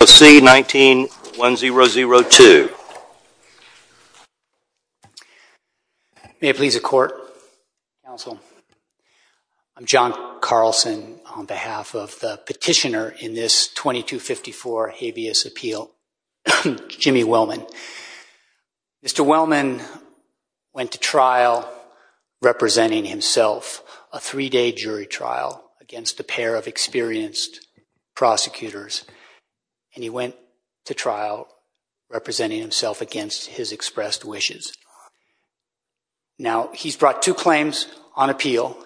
19-1002. May it please the court, counsel, I'm John Carlson on behalf of the petitioner in this 2254 habeas appeal, Jimmy Wellman. Mr. Wellman went to trial representing himself a three-day jury trial against a pair of experienced prosecutors. And he went to trial representing himself against his expressed wishes. Now, he's brought two claims on appeal.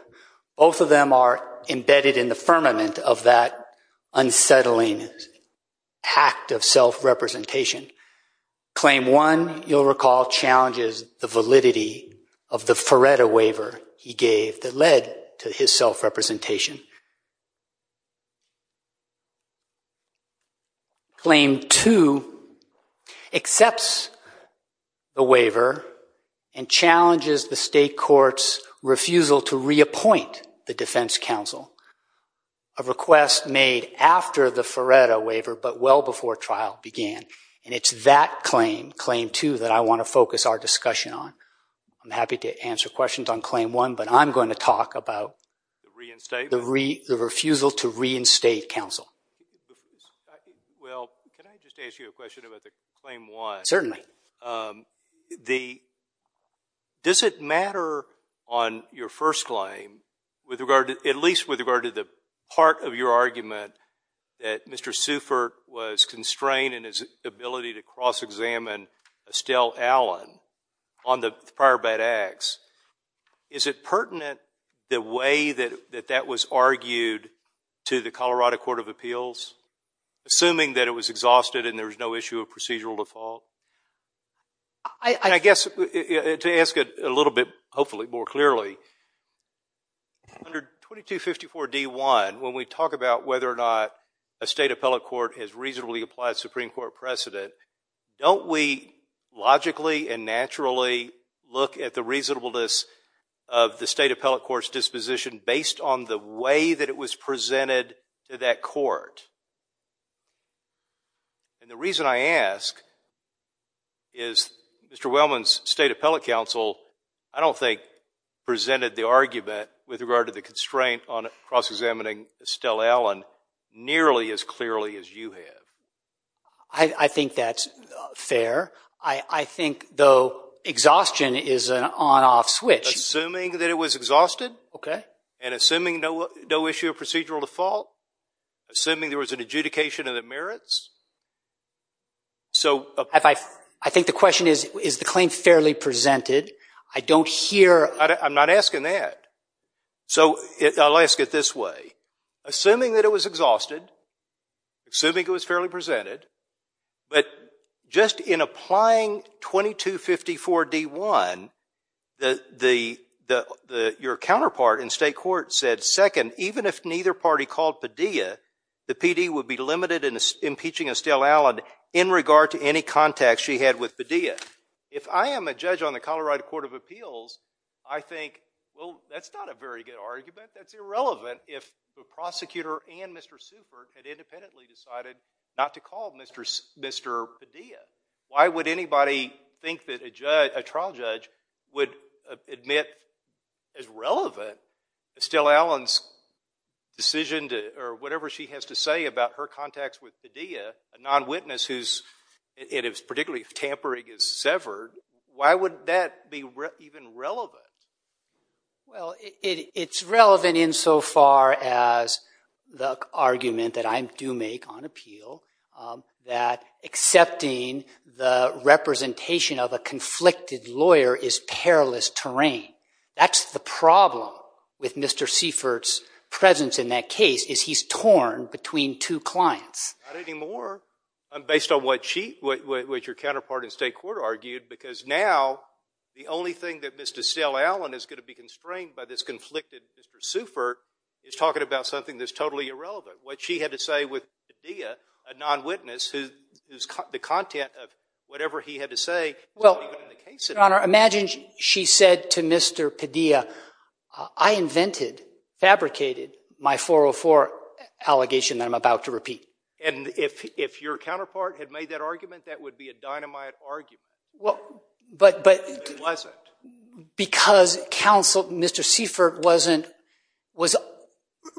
Both of them are embedded in the firmament of that unsettling act of self-representation. Claim one, you'll recall, challenges the validity of the Faretta waiver he gave that to his self-representation. Claim two accepts the waiver and challenges the state court's refusal to reappoint the defense counsel, a request made after the Faretta waiver, but well before trial began. And it's that claim, claim two, that I want to focus our discussion on. I'm happy to answer questions on claim one, but I'm going to talk about the refusal to reinstate counsel. Well, can I just ask you a question about the claim one? Certainly. Does it matter on your first claim, at least with regard to the part of your argument that Mr. Sufert was constrained in his ability to cross-examine Estelle Allen on the prior bad acts, is it pertinent the way that that was argued to the Colorado Court of Appeals, assuming that it was exhausted and there was no issue of procedural default? I guess to ask it a little bit, hopefully, more clearly, under 2254 D1, when we talk about whether or not a state appellate court has reasonably applied Supreme Court precedent, don't we logically and naturally look at the reasonableness of the state appellate court's disposition based on the way that it was presented to that court? And the reason I ask is Mr. Wellman's state appellate counsel, I don't think, presented the argument with regard to the constraint on cross-examining Estelle Allen nearly as clearly as you have. I think that's fair. I think, though, exhaustion is an on-off switch. Assuming that it was exhausted and assuming no issue of procedural default, assuming there was an adjudication of the merits. I think the question is, is the claim fairly presented? I don't hear. I'm not asking that. So I'll ask it this way. Assuming that it was exhausted, assuming it was fairly presented, but just in applying 2254 D1, your counterpart in state court said, second, even if neither party called Padilla, the PD would be limited in impeaching Estelle Allen in regard to any contact she had with Padilla. If I am a judge on the Colorado Court of Appeals, I think, well, that's not a very good argument. That's irrelevant if the prosecutor and Mr. Supert had independently decided not to call Mr. Padilla. Why would anybody think that a trial judge would admit as relevant Estelle Allen's decision or whatever she has to say about her contacts with Padilla, a non-witness who's, and particularly if tampering is severed, why would that be even relevant? Well, it's relevant insofar as the argument that I do make on appeal that accepting the representation of a conflicted lawyer is perilous terrain. That's the problem with Mr. Supert's presence in that case is he's torn between two clients. Not anymore, based on what your counterpart in state court argued, because now the only thing that Mr. Estelle Allen is going to be constrained by this conflicted Mr. Supert is talking about something that's totally irrelevant. What she had to say with Padilla, a non-witness, who's the content of whatever he had to say is not even in the case anymore. Your Honor, imagine she said to Mr. Padilla, I invented, fabricated my 404 allegation that I'm about to repeat. And if your counterpart had made that argument, that would be a dynamite argument. Well, but because counsel, Mr. Seifert wasn't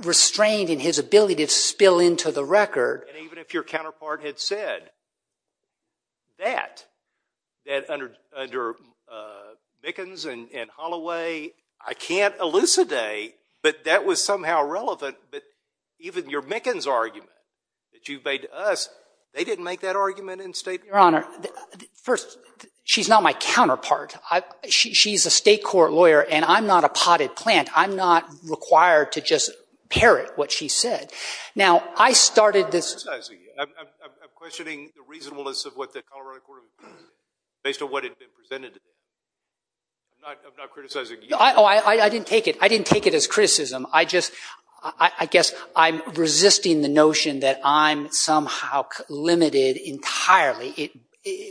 restrained in his ability to spill into the record. And even if your counterpart had said that, that under Mickens and Holloway, I can't elucidate, but that was somehow relevant. But even your Mickens argument that you've made to us, they didn't make that argument in state court. Your Honor, first, she's not my counterpart. She's a state court lawyer. And I'm not a potted plant. I'm not required to just parrot what she said. Now, I started this. I'm not criticizing you. I'm questioning the reasonableness of what the Colorado Court of Appeals is based on what had been presented to me. I'm not criticizing you. Oh, I didn't take it. I didn't take it as criticism. I just, I guess, I'm resisting the notion that I'm somehow limited entirely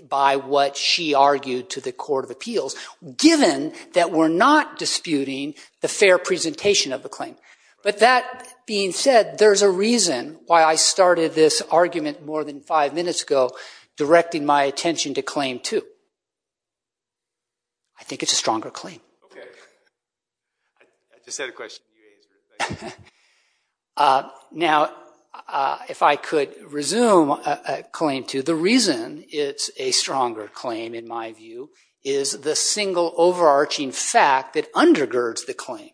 by what she argued to the Court of Appeals, given that we're not disputing the fair presentation of the claim. But that being said, there's a reason why I started this argument more than five minutes ago, directing my attention to claim two. I think it's a stronger claim. I just had a question. Can you answer it? OK. Now, if I could resume claim two, the reason it's a stronger claim, in my view, is the single overarching fact that undergirds the claim,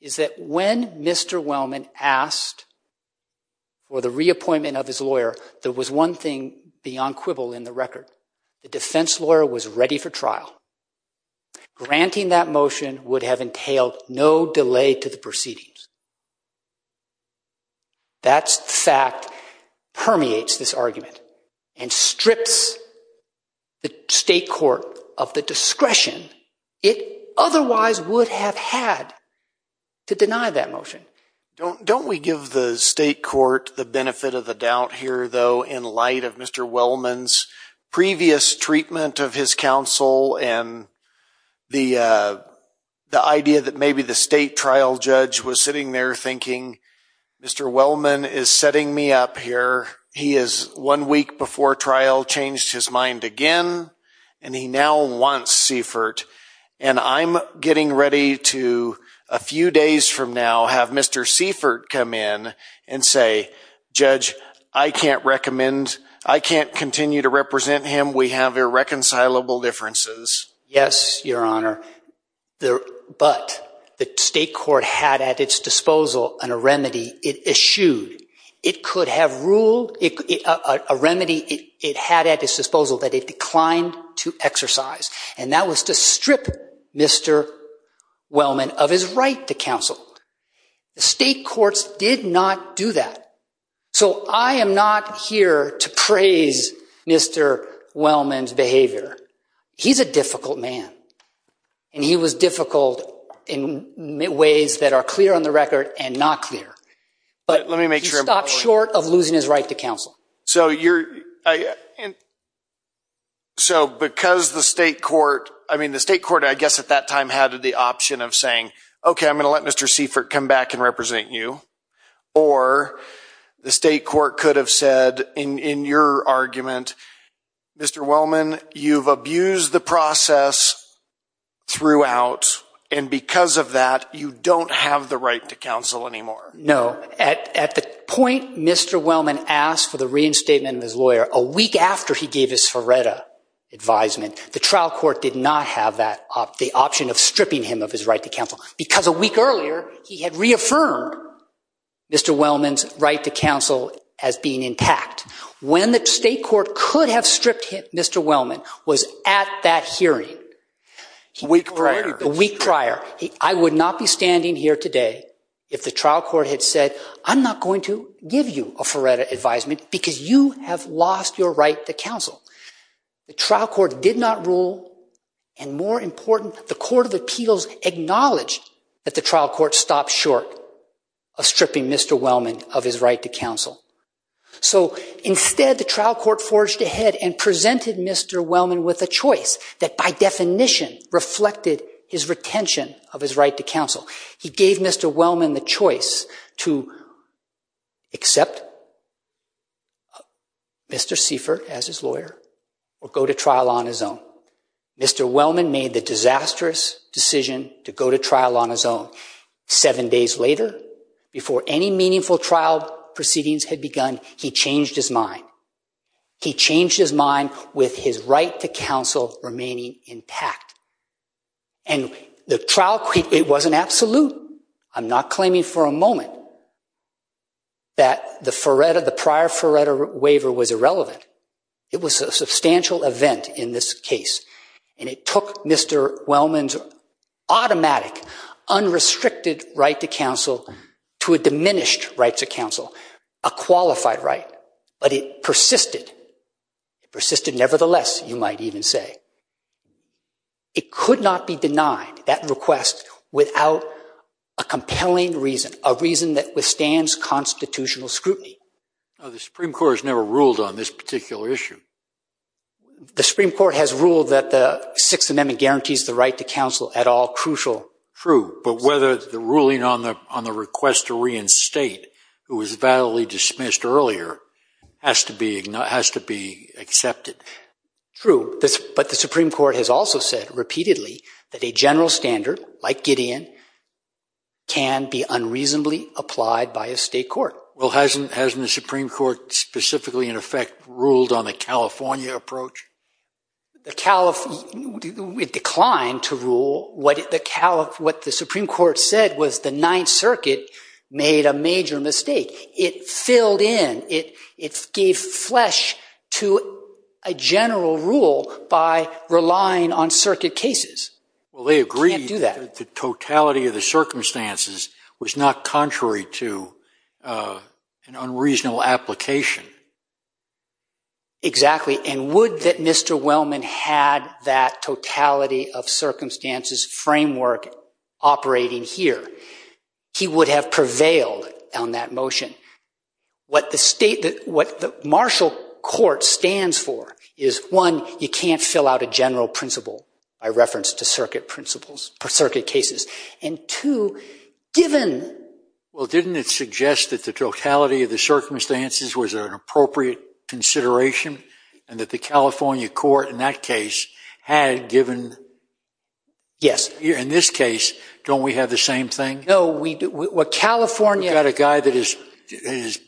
is that when Mr. Wellman asked for the reappointment of his lawyer, there was one thing beyond quibble in the record. The defense lawyer was ready for trial. Granting that motion would have entailed no delay to the proceedings. That fact permeates this argument and strips the state court of the discretion it otherwise would have had to deny that motion. Don't we give the state court the benefit of the doubt here, though, in light of Mr. Wellman's previous treatment of his counsel and the idea that maybe the state trial judge was sitting there thinking, Mr. Wellman is setting me up here. He is, one week before trial, changed his mind again, and he now wants Seifert. And I'm getting ready to, a few days from now, have Mr. Seifert come in and say, judge, I can't continue to represent him. We have irreconcilable differences. Yes, your honor. But the state court had at its disposal a remedy it eschewed. It could have ruled a remedy it had at its disposal that it declined to exercise. And that was to strip Mr. Wellman of his right to counsel. The state courts did not do that. So I am not here to praise Mr. Wellman's behavior. He's a difficult man. And he was difficult in ways that are clear on the record and not clear. But he stopped short of losing his right to counsel. So because the state court, I mean, the state court, I guess, at that time, had the option of saying, OK, I'm going to let Mr. Seifert come back and represent you. Or the state court could have said, in your argument, Mr. Wellman, you've abused the process throughout. And because of that, you don't have the right to counsel anymore. No, at the point Mr. Wellman asked for the reinstatement of his lawyer, a week after he gave his Ferretta advisement, the trial court did not have the option of stripping him of his right to counsel. Because a week earlier, he had reaffirmed Mr. Wellman's right to counsel as being intact. When the state court could have stripped him, Mr. Wellman was at that hearing a week prior. I would not be standing here today if the trial court had said, I'm not going to give you a Ferretta advisement because you have lost your right to counsel. The trial court did not rule. And more important, the Court of Appeals acknowledged that the trial court stopped short of stripping Mr. Wellman of his right to counsel. So instead, the trial court forged ahead and presented Mr. Wellman with a choice that, by definition, reflected his retention of his right to counsel. He gave Mr. Wellman the choice to accept Mr. Seifert as his lawyer or go to trial on his own. Mr. Wellman made the disastrous decision to go to trial on his own. Seven days later, before any meaningful trial proceedings had begun, he changed his mind. He changed his mind with his right to counsel remaining intact. And the trial court, it wasn't absolute. I'm not claiming for a moment that the prior Ferretta waiver was irrelevant. It was a substantial event in this case. And it took Mr. Wellman's automatic, unrestricted right to counsel to a diminished right to counsel, a qualified right. But it persisted. Persisted nevertheless, you might even say. It could not be denied, that request, without a compelling reason, a reason that withstands constitutional scrutiny. The Supreme Court has never ruled on this particular issue. The Supreme Court has ruled that the Sixth Amendment guarantees the right to counsel at all crucial. True, but whether the ruling on the request to reinstate, who was validly dismissed earlier, has to be accepted. True, but the Supreme Court has also said repeatedly that a general standard, like Gideon, can be unreasonably applied by a state court. Well, hasn't the Supreme Court specifically, in effect, ruled on the California approach? It declined to rule. What the Supreme Court said was the Ninth Circuit made a major mistake. It filled in. It gave flesh to a general rule by relying on circuit cases. Well, they agreed that the totality of the circumstances was not contrary to an unreasonable application. Exactly, and would that Mr. Wellman had that totality of circumstances framework operating here, he would have prevailed on that motion. What the martial court stands for is, one, you can't fill out a general principle by reference to circuit principles or circuit cases. And two, given. Well, didn't it suggest that the totality of the circumstances was an appropriate consideration, and that the California court, in that case, had given? Yes. In this case, don't we have the same thing? No, we do. California. We've got a guy that has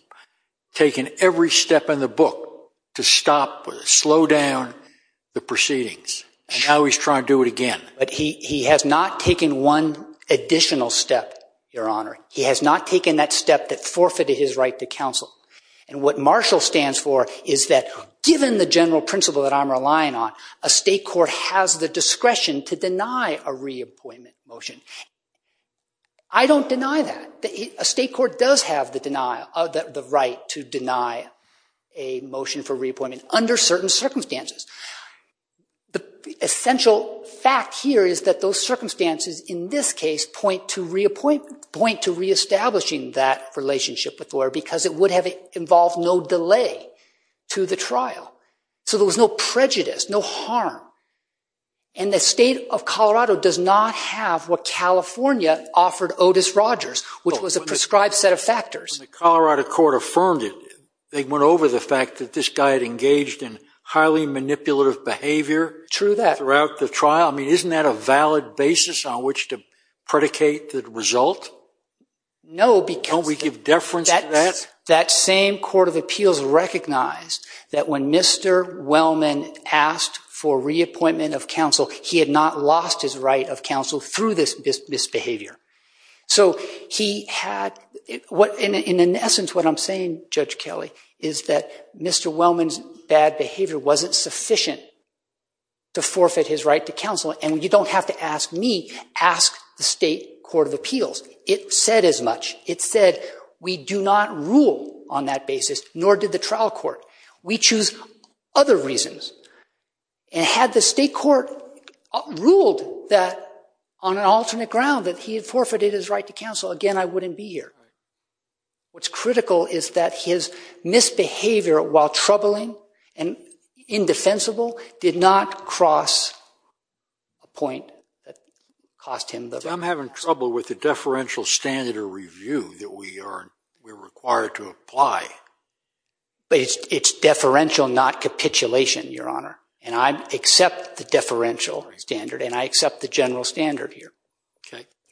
taken every step in the book to stop or slow down the proceedings, and now he's trying to do it again. But he has not taken one additional step, Your Honor. He has not taken that step that forfeited his right to counsel. And what martial stands for is that, given the general principle that I'm relying on, a state court has the discretion to deny a reappointment motion. I don't deny that. A state court does have the right to deny a motion for reappointment under certain circumstances. The essential fact here is that those circumstances, in this case, point to reestablishing that relationship with the lawyer, because it would have involved no delay to the trial. So there was no prejudice, no harm. And the state of Colorado does not have what California offered Otis Rogers, which was a prescribed set of factors. When the Colorado court affirmed it, they went over the fact that this guy had engaged in highly manipulative behavior throughout the trial. Isn't that a valid basis on which to predicate the result? No, because that same court of appeals recognized that when Mr. Wellman asked for reappointment of counsel, he had not lost his right of counsel through this misbehavior. So in essence, what I'm saying, Judge Kelly, is that Mr. Wellman's bad behavior wasn't sufficient to forfeit his right to counsel. And you don't have to ask me. Ask the state court of appeals. It said as much. It said, we do not rule on that basis, nor did the trial court. We choose other reasons. And had the state court ruled that on an alternate ground, that he had forfeited his right to counsel, again, I wouldn't be here. What's critical is that his misbehavior, while troubling and indefensible, did not cross a point that cost him the right to counsel. So I'm having trouble with the deferential standard of review that we are required to apply. But it's deferential, not capitulation, Your Honor. And I accept the deferential standard. And I accept the general standard here.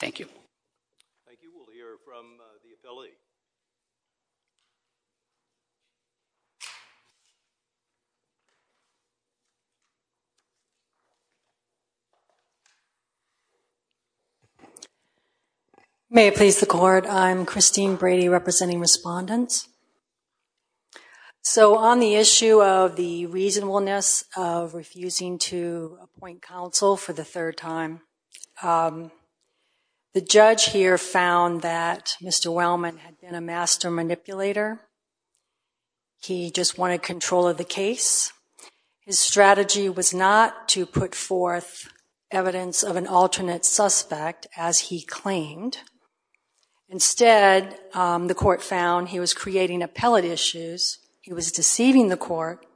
Thank you. Thank you. We'll hear from the affiliates. May it please the court. I'm Christine Brady, representing respondents. So on the issue of the reasonableness of refusing to appoint counsel for the third time, the judge here found that Mr. Wellman had been a master manipulator. He just wanted control of the case. His strategy was not to put forth evidence of an alternate suspect, as he claimed. Instead, the court found he was creating appellate issues, he was deceiving the court,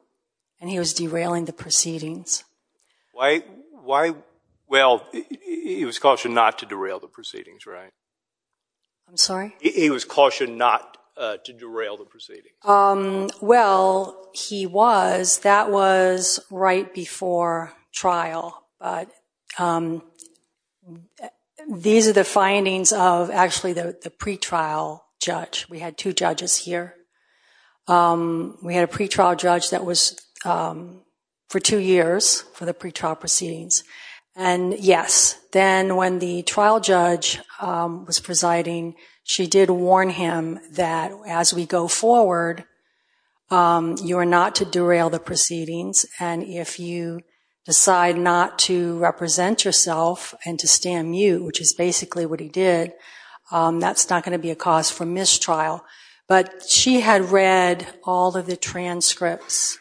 and he was derailing the proceedings. Why? Well, he was cautioned not to derail the proceedings, right? I'm sorry? He was cautioned not to derail the proceedings. Well, he was. That was right before trial. These are the findings of, actually, the pretrial judge. We had two judges here. We had a pretrial judge that was for two years for the pretrial proceedings. And yes, then when the trial judge was presiding, she did warn him that as we go forward, you are not to derail the proceedings. And if you decide not to represent yourself and to stand mute, which is basically what he did, that's not going to be a cause for mistrial. But she had read all of the transcripts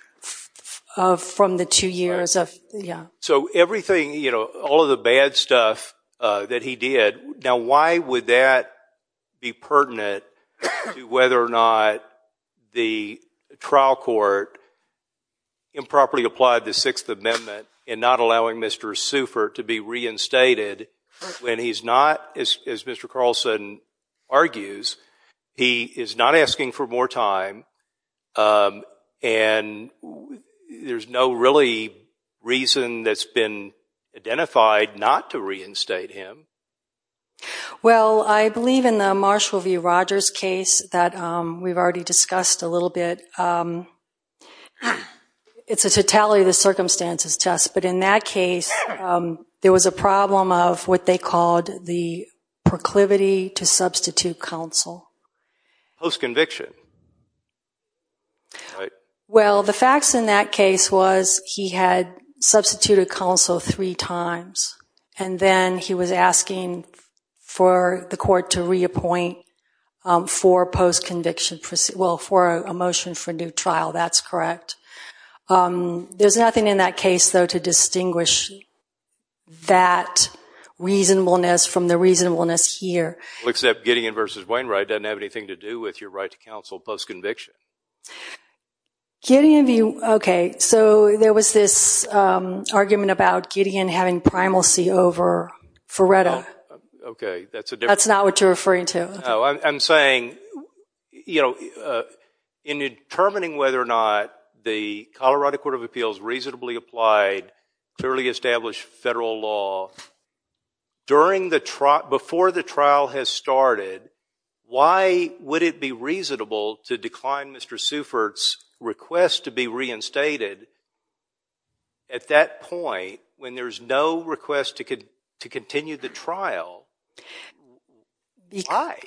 from the two years of, yeah. So everything, all of the bad stuff that he did, now why would that be pertinent to whether or not the trial court improperly applied the Sixth Amendment in not allowing Mr. Suffer to be reinstated when he's not, as Mr. Carlson argues, he is not asking for more time. And there's no really reason that's been identified not to reinstate him. Well, I believe in the Marshall v. Rogers case that we've already discussed a little bit, it's a totality of the circumstances test. But in that case, there was a problem of what they called the proclivity to substitute counsel. Post-conviction. Well, the facts in that case was he had substituted counsel three times. And then he was asking for the court to reappoint for post-conviction, well, for a motion for a new trial. That's correct. There's nothing in that case, though, to distinguish that reasonableness from the reasonableness here. Well, except Gideon v. Wainwright doesn't have anything to do with your right to counsel post-conviction. Gideon v. Wainwright, OK. So there was this argument about Gideon having primalcy over Ferretta. OK, that's a different. That's not what you're referring to. No, I'm saying in determining whether or not the Colorado Court of Appeals reasonably applied clearly established federal law, before the trial has started, why would it be reasonable to decline Mr. Seufert's request to be reinstated at that point when there is no request to continue the trial? Why?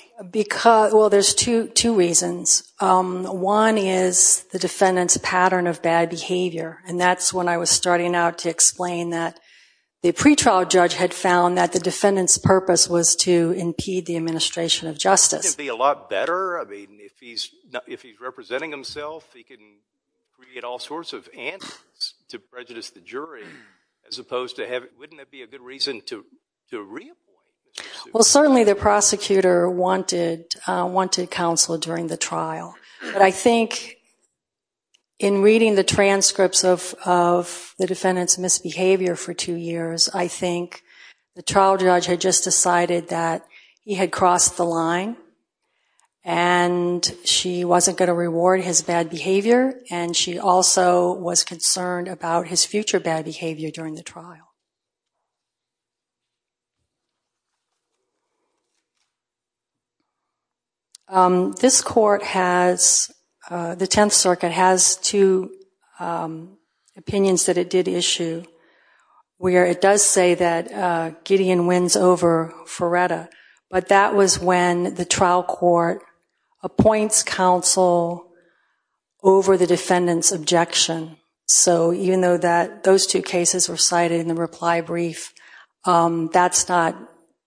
Well, there's two reasons. One is the defendant's pattern of bad behavior. And that's when I was starting out to explain that the pretrial judge had found that the defendant's purpose was to impede the administration of justice. Wouldn't it be a lot better? I mean, if he's representing himself, he can create all sorts of answers to prejudice the jury, as opposed to have it. Wouldn't that be a good reason to reappoint Mr. Seufert? Well, certainly the prosecutor wanted counsel during the trial. But I think in reading the transcripts of the defendant's misbehavior for two years, I think the trial judge had just decided that he had crossed the line. And she wasn't going to reward his bad behavior. And she also was concerned about his future bad behavior during the trial. This court has, the Tenth Circuit has two opinions that it did issue, where it does say that Gideon wins over Ferretta. But that was when the trial court appoints counsel over the defendant's objection. over the defendant's objection. Reply brief. That's not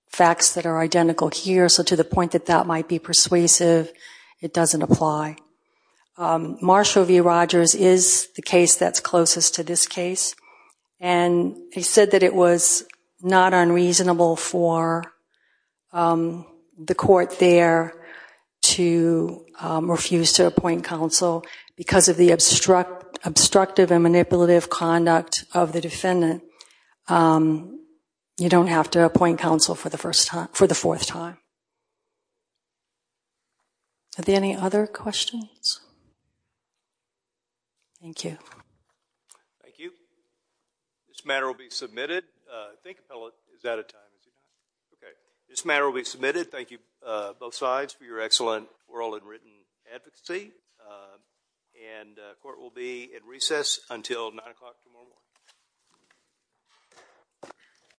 facts that are identical here. So to the point that that might be persuasive, it doesn't apply. Marshall v. Rogers is the case that's closest to this case. And he said that it was not unreasonable for the court there to refuse to appoint counsel because of the obstructive and manipulative conduct of the defendant. You don't have to appoint counsel for the fourth time. Are there any other questions? Thank you. Thank you. This matter will be submitted. I think the panel is out of time. This matter will be submitted. Thank you, both sides, for your excellent oral and written advocacy. And court will be at recess until 9 o'clock tomorrow morning.